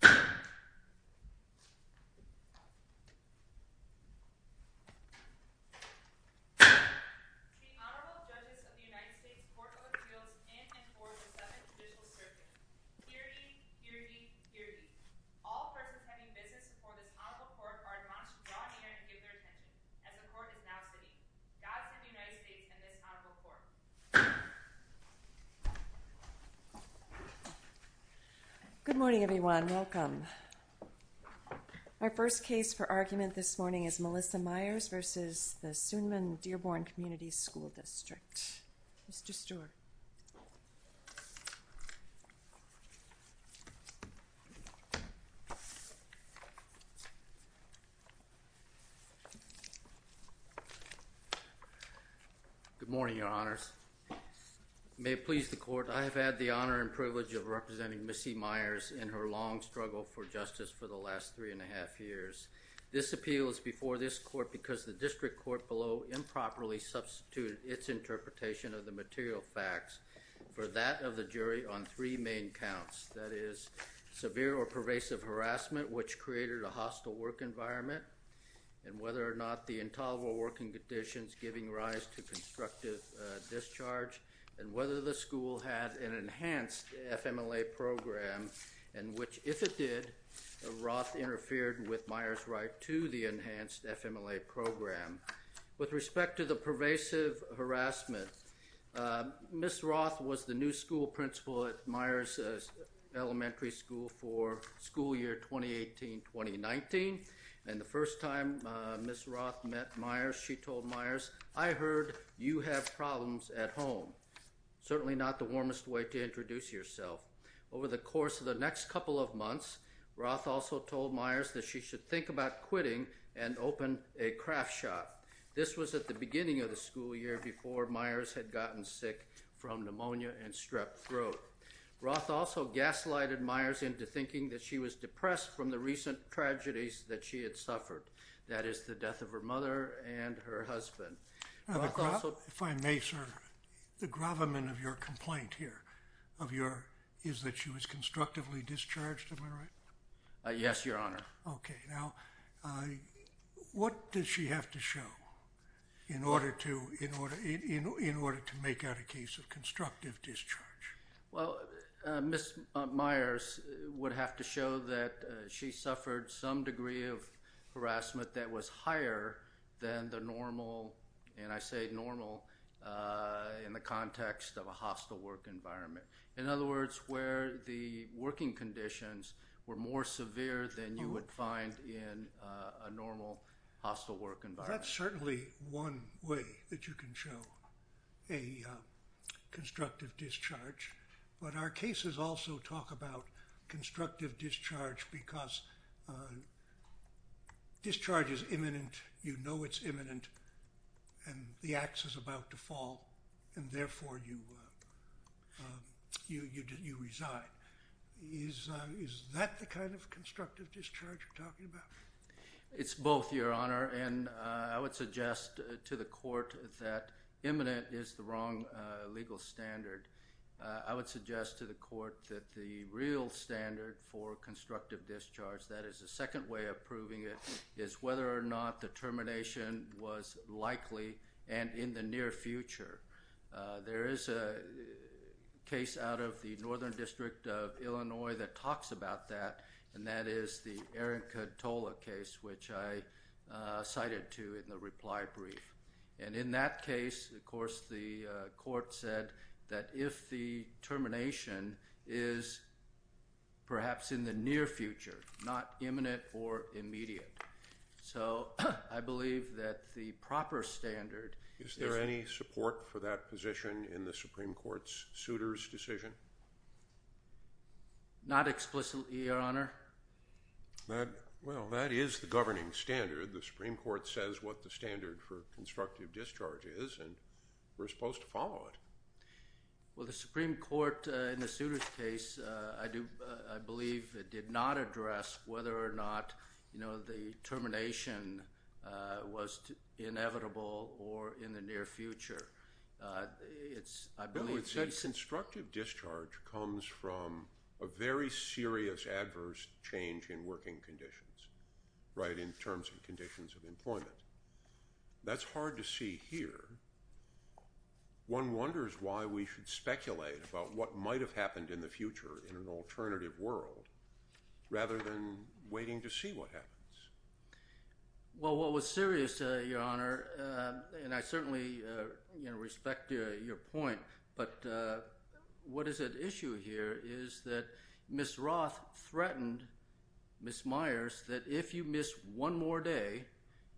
The Honorable Judges of the United States Court of Appeals in and for the Seventh Judicial Circuit. Hear ye, hear ye, hear ye. All present pending business before this honorable court are admonished to draw near and give their attention, as the court is now sitting. God send the United States and this honorable court. Good morning, everyone. Welcome. Our first case for argument this morning is Melissa Myers v. Sunman-Dearborn Community School District. Mr. Stewart. Good morning, your honors. May it please the court, I have had the honor and privilege of representing Missy Myers in her long struggle for justice for the last three and a half years. This appeal is before this court because the district court below improperly substituted its interpretation of the material facts for that of the jury on three main counts. That is, severe or pervasive harassment, which created a hostile work environment, and whether or not the intolerable working conditions giving rise to constructive discharge, and whether the school had an enhanced FMLA program in which, if it did, Roth interfered with Myers' right to the enhanced FMLA program. With respect to the pervasive harassment, Miss Roth was the new school principal at Myers Elementary School for school year 2018-2019, and the first time Miss Roth met Myers, she told Myers, I heard you have problems at home. Certainly not the warmest way to introduce yourself. Over the course of the next couple of months, Roth also told Myers that she should think about quitting and open a craft shop. This was at the beginning of the school year before Myers had gotten sick from pneumonia and strep throat. Roth also gaslighted Myers into thinking that she was depressed from the recent tragedies that she had suffered, that is, the death of her mother and her husband. If I may, sir, the gravamen of your complaint here is that she was constructively discharged, am I right? Yes, Your Honor. Okay. Now, what does she have to show in order to make out a case of constructive discharge? Well, Miss Myers would have to show that she suffered some degree of harassment that was higher than the normal, and I say normal, in the context of a hostile work environment. In other words, where the working conditions were more severe than you would find in a normal hostile work environment. That's certainly one way that you can show a constructive discharge, but our cases also talk about constructive discharge because discharge is imminent, you know it's imminent, and the ax is about to fall, and therefore you resign. Is that the kind of constructive discharge you're talking about? It's both, Your Honor, and I would suggest to the court that imminent is the wrong legal standard. I would suggest to the court that the real standard for constructive discharge, that is the second way of proving it, is whether or not the termination was likely and in the near future. There is a case out of the Northern District of Illinois that talks about that, and that is the Aaron Cotola case, which I cited to in the reply brief, and in that case, of course, the court said that if the termination is perhaps in the near future, not imminent or immediate, so I believe that the proper standard is— Not explicitly, Your Honor? Well, that is the governing standard. The Supreme Court says what the standard for constructive discharge is, and we're supposed to follow it. Well, the Supreme Court in the Souters case, I believe, did not address whether or not the termination was inevitable or in the near future. No, it says constructive discharge comes from a very serious adverse change in working conditions, right, in terms of conditions of employment. That's hard to see here. One wonders why we should speculate about what might have happened in the future in an alternative world rather than waiting to see what happens. Well, what was serious, Your Honor, and I certainly respect your point, but what is at issue here is that Ms. Roth threatened Ms. Myers that if you miss one more day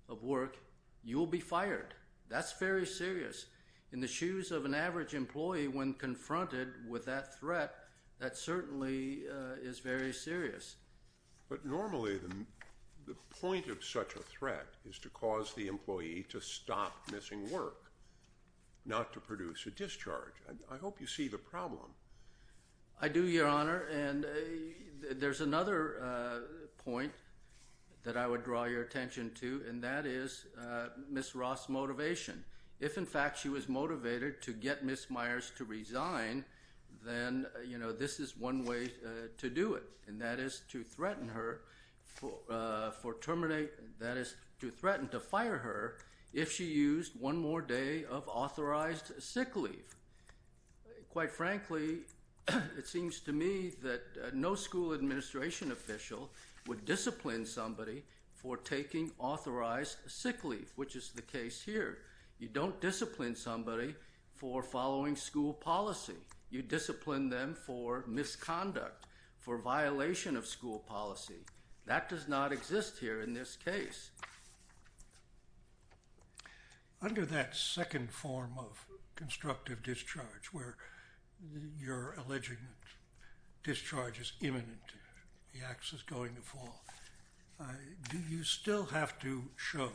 of work, you will be fired. That's very serious. In the shoes of an average employee when confronted with that threat, that certainly is very serious. But normally the point of such a threat is to cause the employee to stop missing work, not to produce a discharge. I hope you see the problem. I do, Your Honor, and there's another point that I would draw your attention to, and that is Ms. Roth's motivation. If, in fact, she was motivated to get Ms. Myers to resign, then this is one way to do it, and that is to threaten to fire her if she used one more day of authorized sick leave. Quite frankly, it seems to me that no school administration official would discipline somebody for taking authorized sick leave, which is the case here. You don't discipline somebody for following school policy. You discipline them for misconduct, for violation of school policy. That does not exist here in this case. Under that second form of constructive discharge where you're alleging discharge is imminent, the ax is going to fall, do you still have to show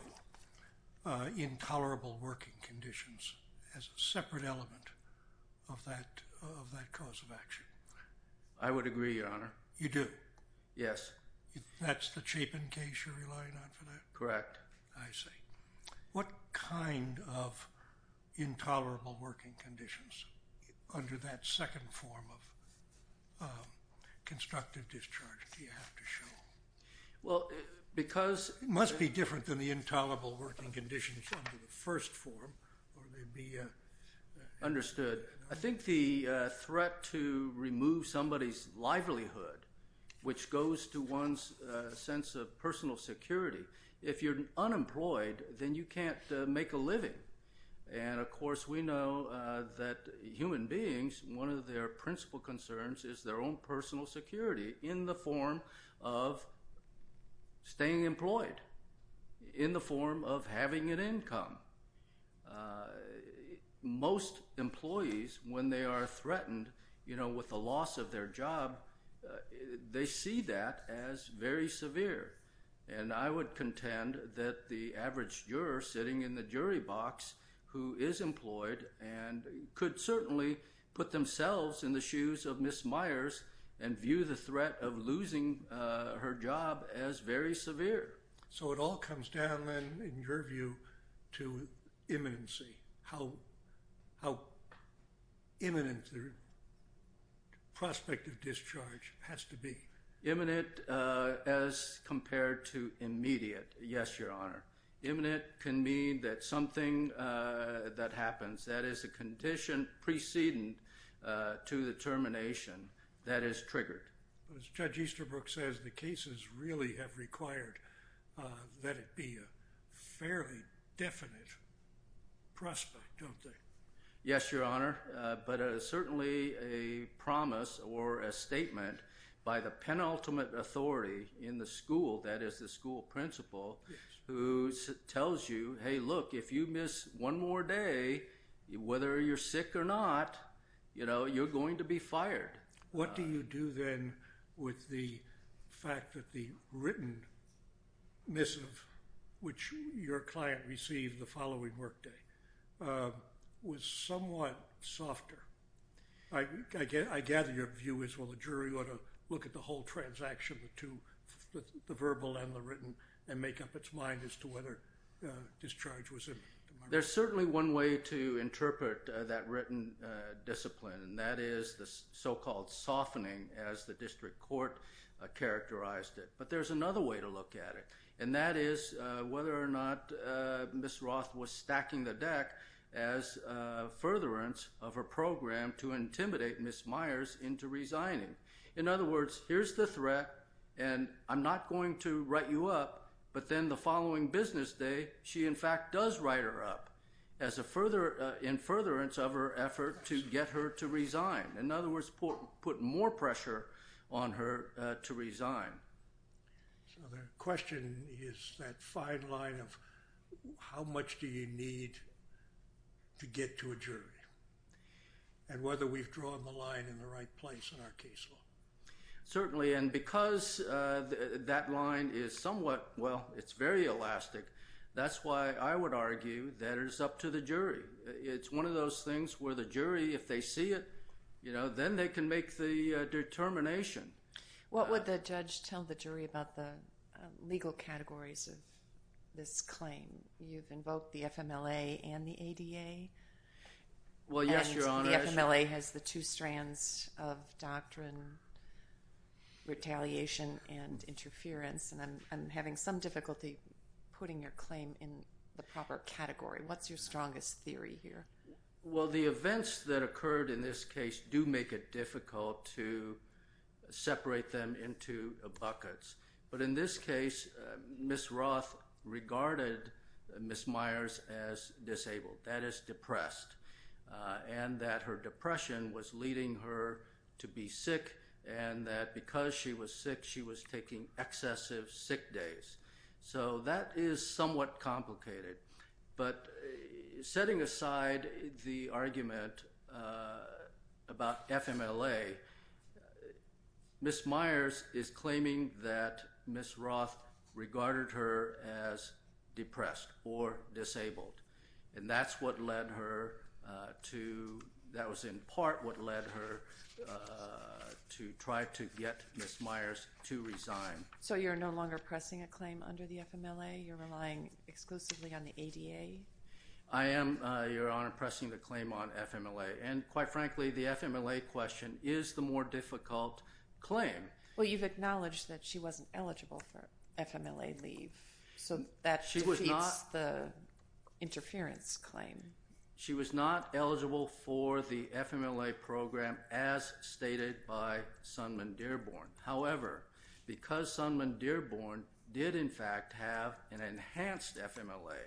intolerable working conditions as a separate element of that cause of action? I would agree, Your Honor. You do? Yes. That's the Chapin case you're relying on for that? Correct. I see. What kind of intolerable working conditions under that second form of constructive discharge do you have to show? Well, because— It must be different than the intolerable working conditions under the first form, or there'd be a— —a sense of personal security. If you're unemployed, then you can't make a living, and of course we know that human beings, one of their principal concerns is their own personal security in the form of staying employed, in the form of having an income. Most employees, when they are threatened with the loss of their job, they see that as very severe, and I would contend that the average juror sitting in the jury box who is employed could certainly put themselves in the shoes of Ms. Myers and view the threat of losing her job as very severe. So it all comes down, then, in your view, to imminency, how imminent the prospect of discharge has to be. Imminent as compared to immediate, yes, Your Honor. Imminent can mean that something that happens, that is a condition preceding to the termination, that is triggered. As Judge Easterbrook says, the cases really have required that it be a fairly definite prospect, don't they? Yes, Your Honor, but certainly a promise or a statement by the penultimate authority in the school, that is the school principal, who tells you, hey, look, if you miss one more day, whether you're sick or not, you're going to be fired. What do you do, then, with the fact that the written missive, which your client received the following workday, was somewhat softer? I gather your view is, well, the jury ought to look at the whole transaction, the verbal and the written, and make up its mind as to whether discharge was imminent. There's certainly one way to interpret that written discipline, and that is the so-called softening, as the district court characterized it. But there's another way to look at it, and that is whether or not Ms. Roth was stacking the deck as a furtherance of her program to intimidate Ms. Myers into resigning. In other words, here's the threat, and I'm not going to write you up, but then the following business day, she in fact does write her up as a further, in furtherance of her effort to get her to resign. In other words, put more pressure on her to resign. So the question is that fine line of how much do you need to get to a jury, and whether we've drawn the line in the right place in our case law. Certainly, and because that line is somewhat, well, it's very elastic, that's why I would argue that it's up to the jury. It's one of those things where the jury, if they see it, then they can make the determination. What would the judge tell the jury about the legal categories of this claim? You've invoked the FMLA and the ADA. Well, yes, Your Honor. And the FMLA has the two strands of doctrine, retaliation and interference, and I'm having some difficulty putting your claim in the proper category. What's your strongest theory here? Well, the events that occurred in this case do make it difficult to separate them into buckets. But in this case, Ms. Roth regarded Ms. Myers as disabled, that is depressed, and that her depression was leading her to be sick, and that because she was sick, she was taking excessive sick days. So that is somewhat complicated. But setting aside the argument about FMLA, Ms. Myers is claiming that Ms. Roth regarded her as depressed or disabled, and that's what led her to – that was in part what led her to try to get Ms. Myers to resign. So you're no longer pressing a claim under the FMLA? You're relying exclusively on the ADA? I am, Your Honor, pressing the claim on FMLA. And quite frankly, the FMLA question is the more difficult claim. Well, you've acknowledged that she wasn't eligible for FMLA leave, so that defeats the interference claim. She was not eligible for the FMLA program as stated by Sundman Dearborn. However, because Sundman Dearborn did in fact have an enhanced FMLA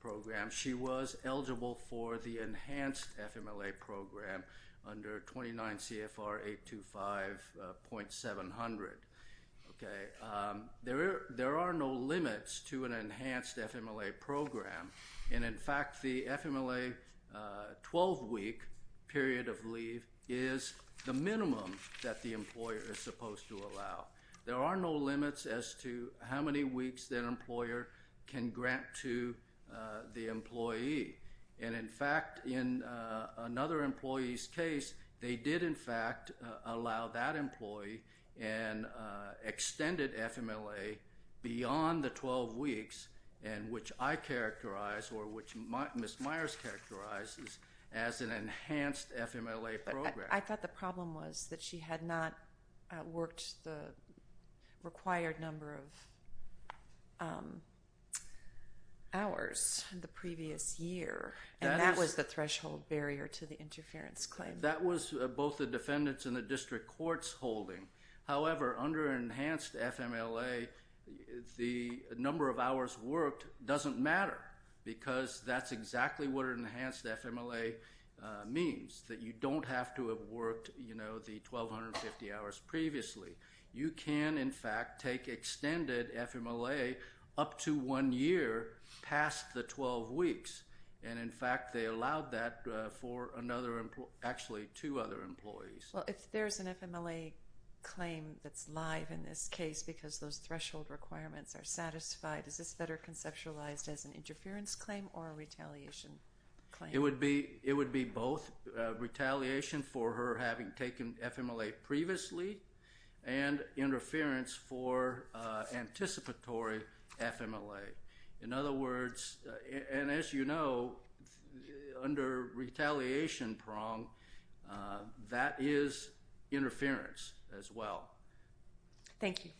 program, she was eligible for the enhanced FMLA program under 29 CFR 825.700. There are no limits to an enhanced FMLA program, and in fact, the FMLA 12-week period of leave is the minimum that the employer is supposed to allow. There are no limits as to how many weeks that employer can grant to the employee. And in fact, in another employee's case, they did in fact allow that employee an extended FMLA beyond the 12 weeks, and which I characterize or which Ms. Myers characterizes as an enhanced FMLA program. I thought the problem was that she had not worked the required number of hours in the previous year, and that was the threshold barrier to the interference claim. That was both the defendant's and the district court's holding. However, under enhanced FMLA, the number of hours worked doesn't matter because that's exactly what an enhanced FMLA means, that you don't have to have worked, you know, the 1,250 hours previously. You can, in fact, take extended FMLA up to one year past the 12 weeks, and in fact, they allowed that for another employee, actually two other employees. Well, if there's an FMLA claim that's live in this case because those threshold requirements are satisfied, is this better conceptualized as an interference claim or a retaliation claim? It would be both retaliation for her having taken FMLA previously and interference for anticipatory FMLA. In other words, and as you know, under retaliation prong, that is interference as well. Thank you.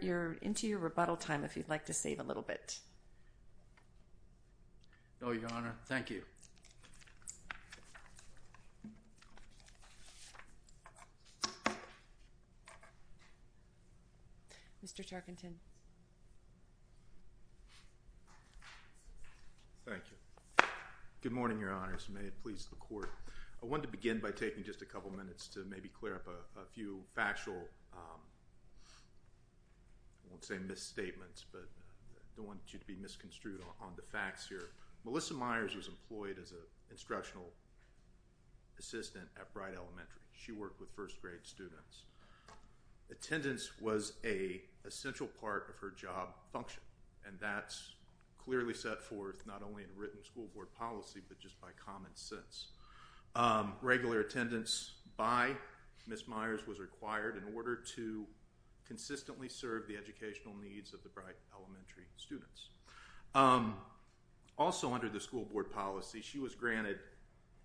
You're into your rebuttal time if you'd like to save a little bit. No, Your Honor. Thank you. Mr. Tarkenton. Thank you. Good morning, Your Honors. May it please the court. I want to begin by taking just a couple minutes to maybe clear up a few factual, I won't say misstatements, but I don't want you to be misconstrued on the facts here. Melissa Myers was employed as an instructional assistant at Bright Elementary. She worked with first grade students. Attendance was an essential part of her job function, and that's clearly set forth not only in written school board policy, but just by common sense. Regular attendance by Ms. Myers was required in order to consistently serve the educational needs of the Bright Elementary students. Also under the school board policy, she was granted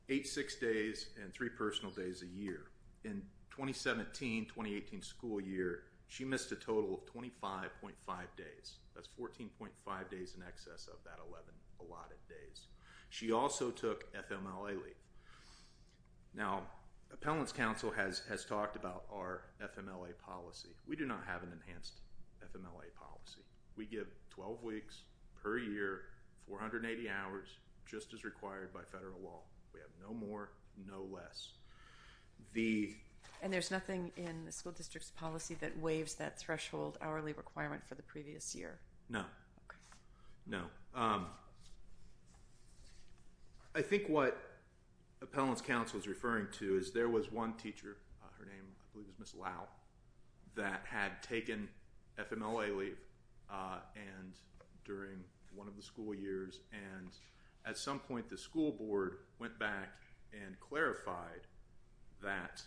eight six days and three personal days a year. In 2017-2018 school year, she missed a total of 25.5 days. That's 14.5 days in excess of that 11 allotted days. She also took FMLA leave. Now, Appellants Council has talked about our FMLA policy. We do not have an enhanced FMLA policy. We give 12 weeks per year, 480 hours, just as required by federal law. We have no more, no less. And there's nothing in the school district's policy that waives that threshold hourly requirement for the previous year? No. I think what Appellants Council is referring to is there was one teacher, her name I believe is Ms. Lau, that had taken FMLA leave during one of the school years. At some point, the school board went back and clarified that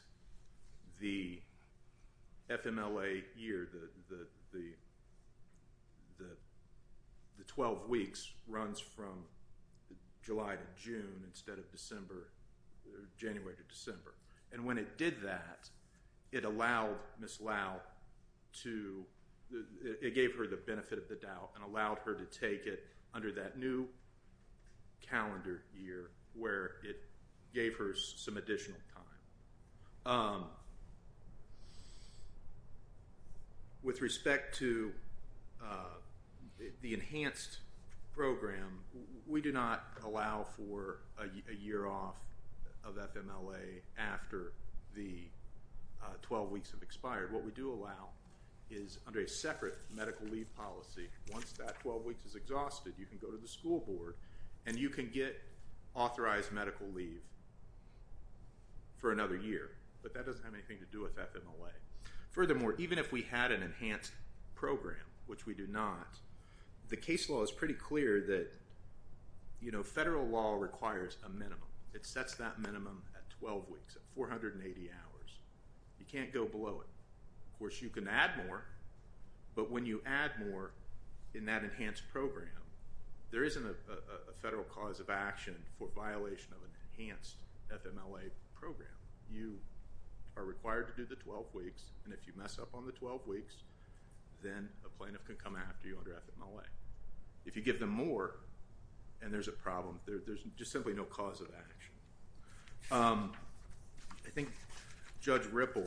the FMLA year, the 12 weeks, runs from July to June instead of January to December. And when it did that, it allowed Ms. Lau to, it gave her the benefit of the doubt and allowed her to take it under that new calendar year where it gave her some additional time. With respect to the enhanced program, we do not allow for a year off of FMLA after the 12 weeks have expired. What we do allow is under a separate medical leave policy, once that 12 weeks is exhausted, you can go to the school board and you can get authorized medical leave for another year. But that doesn't have anything to do with FMLA. Furthermore, even if we had an enhanced program, which we do not, the case law is pretty clear that federal law requires a minimum. It sets that minimum at 12 weeks, at 480 hours. You can't go below it. Of course, you can add more, but when you add more in that enhanced program, there isn't a federal cause of action for violation of an enhanced FMLA program. You are required to do the 12 weeks, and if you mess up on the 12 weeks, then a plaintiff can come after you under FMLA. If you give them more, and there's a problem, there's just simply no cause of action. I think Judge Ripple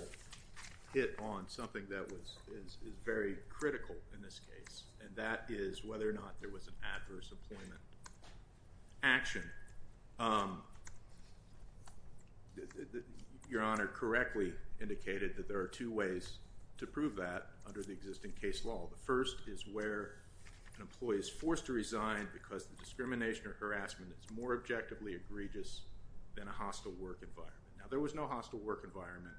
hit on something that is very critical in this case, and that is whether or not there was an adverse employment action. Your Honor correctly indicated that there are two ways to prove that under the existing case law. The first is where an employee is forced to resign because the discrimination or harassment is more objectively egregious than a hostile work environment. Now, there was no hostile work environment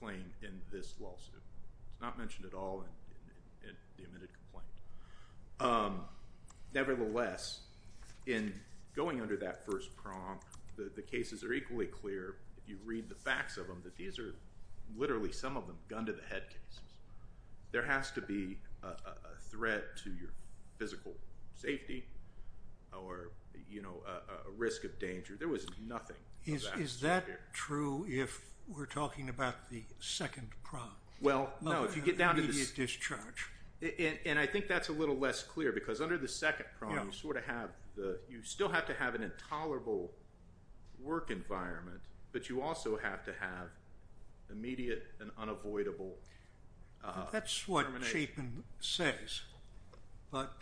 claim in this lawsuit. It's not mentioned at all in the admitted complaint. Nevertheless, in going under that first prompt, the cases are equally clear. You read the facts of them that these are literally, some of them, gun to the head cases. There has to be a threat to your physical safety or a risk of danger. There was nothing of that sort here. Is that true if we're talking about the second prompt? Well, no. Immediate discharge. And I think that's a little less clear because under the second prompt, you still have to have an intolerable work environment, but you also have to have immediate and unavoidable. That's what Chapin says, but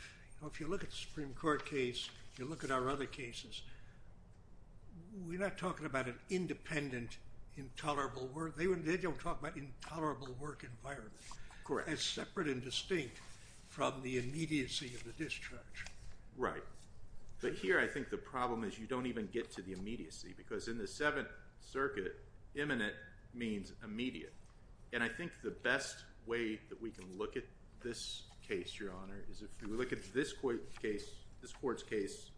if you look at the Supreme Court case, you look at our other cases, we're not talking about an independent intolerable work. They don't talk about intolerable work environment. It's separate and distinct from the immediacy of the discharge. Right. But here, I think the problem is you don't even get to the immediacy because in the Seventh Circuit, imminent means immediate. And I think the best way that we can look at this case, Your Honor, is if we look at this court's case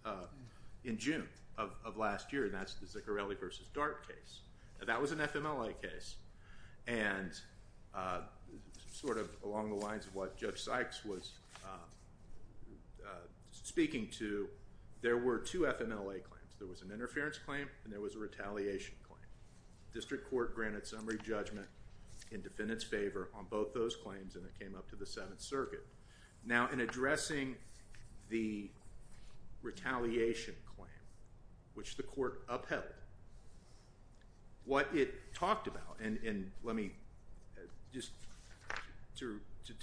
in June of last year, and that's the Ziccarelli v. Dart case. That was an FMLA case, and sort of along the lines of what Judge Sykes was speaking to, there were two FMLA claims. There was an interference claim and there was a retaliation claim. District Court granted summary judgment in defendant's favor on both those claims, and it came up to the Seventh Circuit. Now, in addressing the retaliation claim, which the court upheld, what it talked about, and let me just to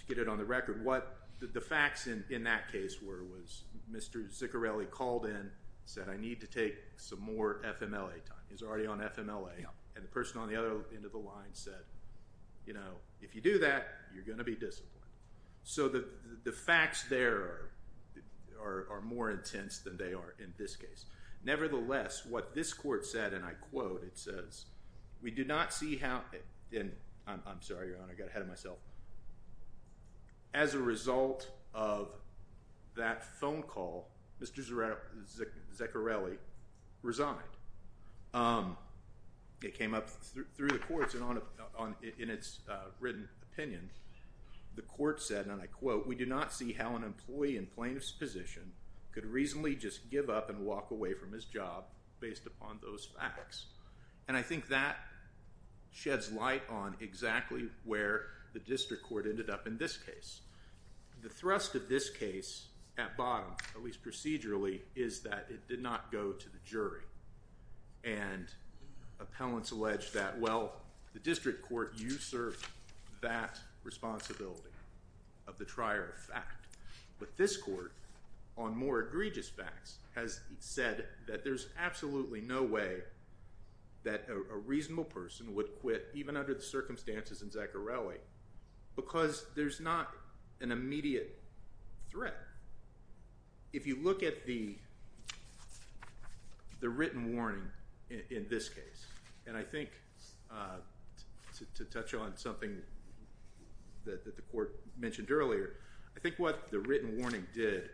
get it on the record, what the facts in that case were was Mr. Ziccarelli called in, said, I need to take some more FMLA time. He was already on FMLA, and the person on the other end of the line said, you know, if you do that, you're going to be disciplined. So the facts there are more intense than they are in this case. Nevertheless, what this court said, and I quote, it says, we do not see how, and I'm sorry, Your Honor, I got ahead of myself. As a result of that phone call, Mr. Ziccarelli resigned. It came up through the courts and in its written opinion. The court said, and I quote, we do not see how an employee in plaintiff's position could reasonably just give up and walk away from his job based upon those facts. And I think that sheds light on exactly where the district court ended up in this case. The thrust of this case at bottom, at least procedurally, is that it did not go to the jury. And appellants allege that, well, the district court usurped that responsibility of the trier of fact. But this court, on more egregious facts, has said that there's absolutely no way that a reasonable person would quit, even under the circumstances in Ziccarelli, because there's not an immediate threat. If you look at the written warning in this case, and I think to touch on something that the court mentioned earlier, I think what the written warning did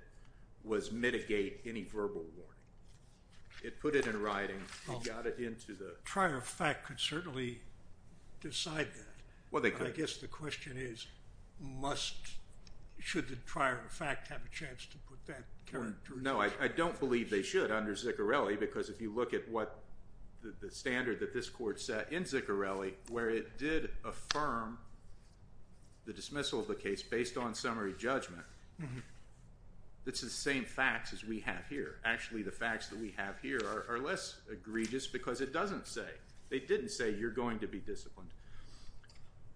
was mitigate any verbal warning. It put it in writing. It got it into the… Trier of fact could certainly decide that. Well, they could. I guess the question is, should the trier of fact have a chance to put that characteristic? No, I don't believe they should under Ziccarelli, because if you look at what the standard that this court set in Ziccarelli, where it did affirm the dismissal of the case based on summary judgment, it's the same facts as we have here. Actually, the facts that we have here are less egregious because it doesn't say. You're going to be disciplined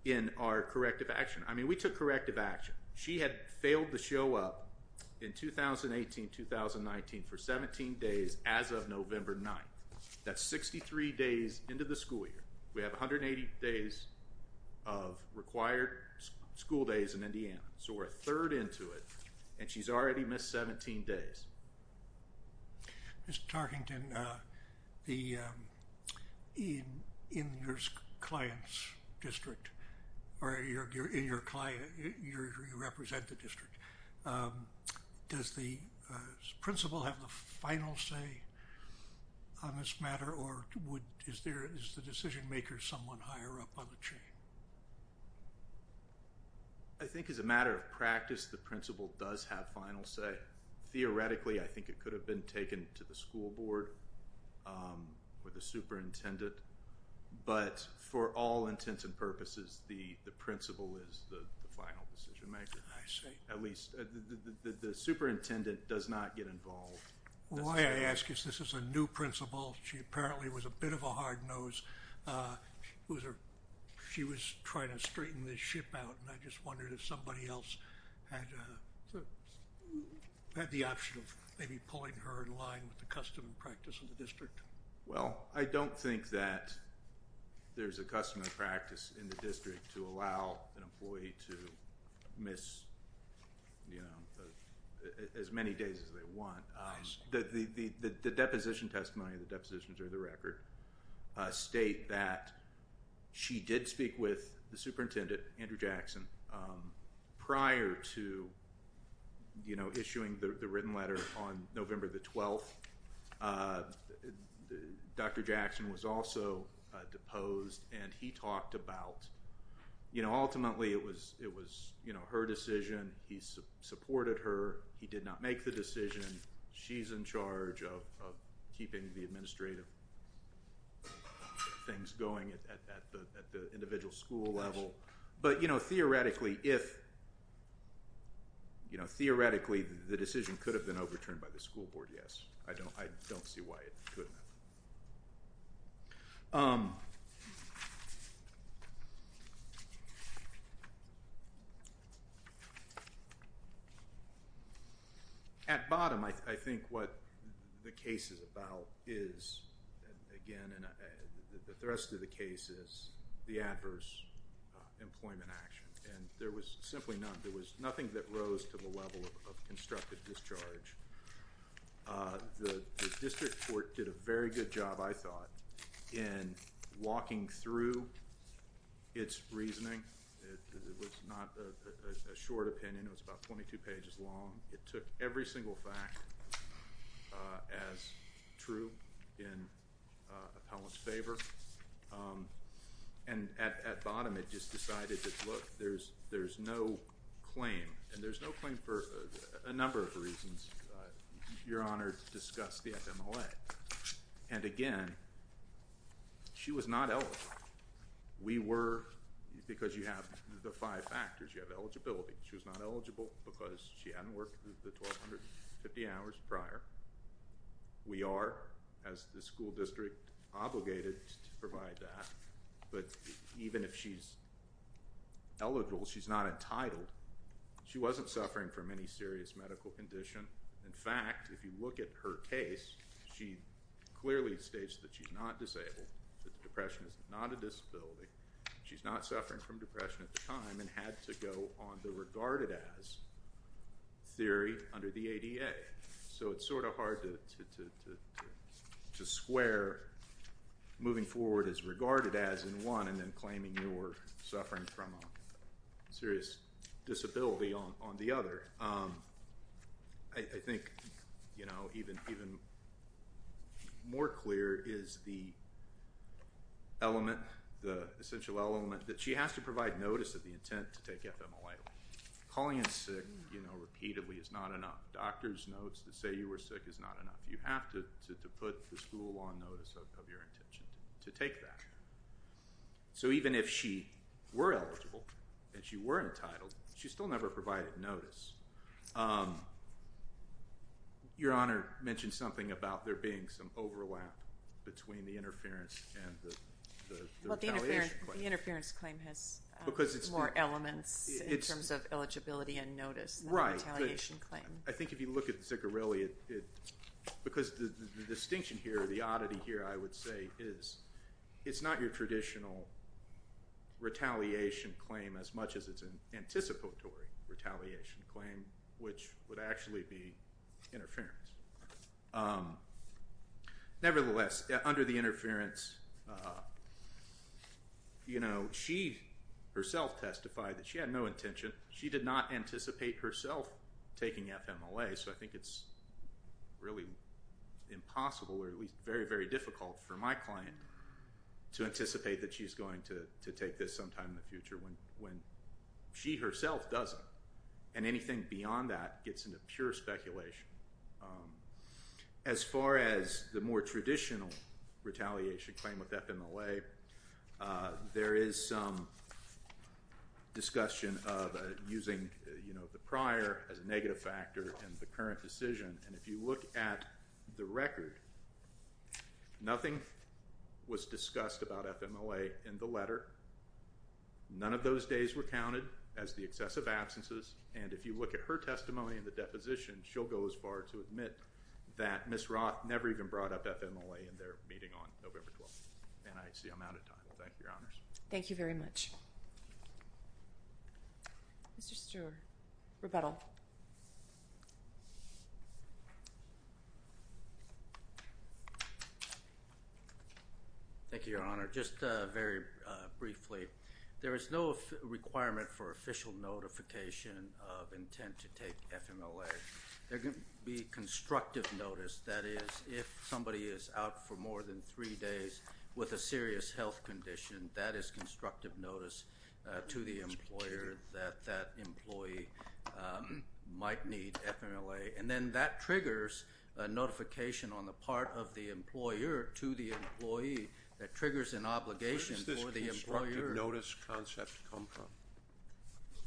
in our corrective action. I mean, we took corrective action. She had failed to show up in 2018-2019 for 17 days as of November 9th. That's 63 days into the school year. We have 180 days of required school days in Indiana, so we're a third into it, and she's already missed 17 days. Mr. Tarkington, in your client's district, you represent the district. Does the principal have the final say on this matter, or is the decision maker someone higher up on the chain? I think as a matter of practice, the principal does have final say. Theoretically, I think it could have been taken to the school board or the superintendent, but for all intents and purposes, the principal is the final decision maker. I see. At least the superintendent does not get involved. Why I ask is this is a new principal. She apparently was a bit of a hard nose. She was trying to straighten the ship out, and I just wondered if somebody else had the option of maybe pulling her in line with the custom and practice of the district. Well, I don't think that there's a custom and practice in the district to allow an employee to miss as many days as they want. The deposition testimony, the depositions are the record, state that she did speak with the superintendent, Andrew Jackson, prior to issuing the written letter on November the 12th. Dr. Jackson was also deposed, and he talked about ultimately it was her decision. He supported her. He did not make the decision. She's in charge of keeping the administrative things going at the individual school level. But, you know, theoretically, the decision could have been overturned by the school board, yes. I don't see why it couldn't have. At bottom, I think what the case is about is, again, the rest of the case is the adverse employment action. And there was simply none. There was nothing that rose to the level of constructive discharge. The district court did a very good job, I thought, in walking through its reasoning. It was not a short opinion. It was about 22 pages long. It took every single fact as true in appellant's favor. And at bottom, it just decided that, look, there's no claim. And there's no claim for a number of reasons. Your Honor discussed the FMLA. And again, she was not eligible. We were, because you have the five factors. You have eligibility. She was not eligible because she hadn't worked the 1,250 hours prior. We are, as the school district obligated to provide that. But even if she's eligible, she's not entitled. She wasn't suffering from any serious medical condition. In fact, if you look at her case, she clearly states that she's not disabled, that depression is not a disability. She's not suffering from depression at the time and had to go on the regarded as theory under the ADA. So it's sort of hard to swear moving forward as regarded as in one and then claiming you were suffering from a serious disability on the other. I think, you know, even more clear is the element, the essential element, that she has to provide notice of the intent to take FMLA. Calling in sick, you know, repeatedly is not enough. Doctor's notes that say you were sick is not enough. You have to put the school on notice of your intention to take that. So even if she were eligible and she were entitled, she still never provided notice. Your Honor mentioned something about there being some overlap between the interference and the retaliation claim. The interference claim has more elements in terms of eligibility and notice than the retaliation claim. I think if you look at the Zigarelli, because the distinction here, the oddity here, I would say, is it's not your traditional retaliation claim as much as it's an anticipatory retaliation claim, which would actually be interference. Nevertheless, under the interference, you know, she herself testified that she had no intention. She did not anticipate herself taking FMLA, so I think it's really impossible, or at least very, very difficult for my client to anticipate that she's going to take this sometime in the future when she herself doesn't, and anything beyond that gets into pure speculation. As far as the more traditional retaliation claim with FMLA, there is some discussion of using the prior as a negative factor in the current decision, and if you look at the record, nothing was discussed about FMLA in the letter. None of those days were counted as the excessive absences, and if you look at her testimony in the deposition, she'll go as far to admit that Ms. Roth never even brought up FMLA in their meeting on November 12th, and I see I'm out of time. Thank you, Your Honors. Thank you very much. Mr. Stewart, rebuttal. Thank you, Your Honor. Just very briefly, there is no requirement for official notification of intent to take FMLA. There can be constructive notice. That is, if somebody is out for more than three days with a serious health condition, that is constructive notice to the employer that that employee might need FMLA, and then that triggers a notification on the part of the employer to the employee that triggers an obligation for the employer. Where does this constructive notice concept come from?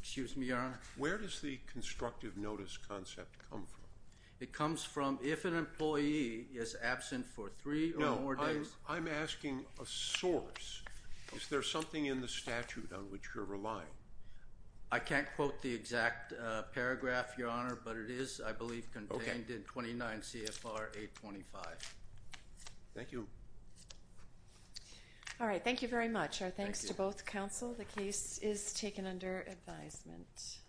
Excuse me, Your Honor? Where does the constructive notice concept come from? It comes from if an employee is absent for three or more days. No, I'm asking a source. Is there something in the statute on which you're relying? I can't quote the exact paragraph, Your Honor, but it is, I believe, contained in 29 CFR 825. Thank you. All right. Thank you very much. Our thanks to both counsel. The case is taken under advisement.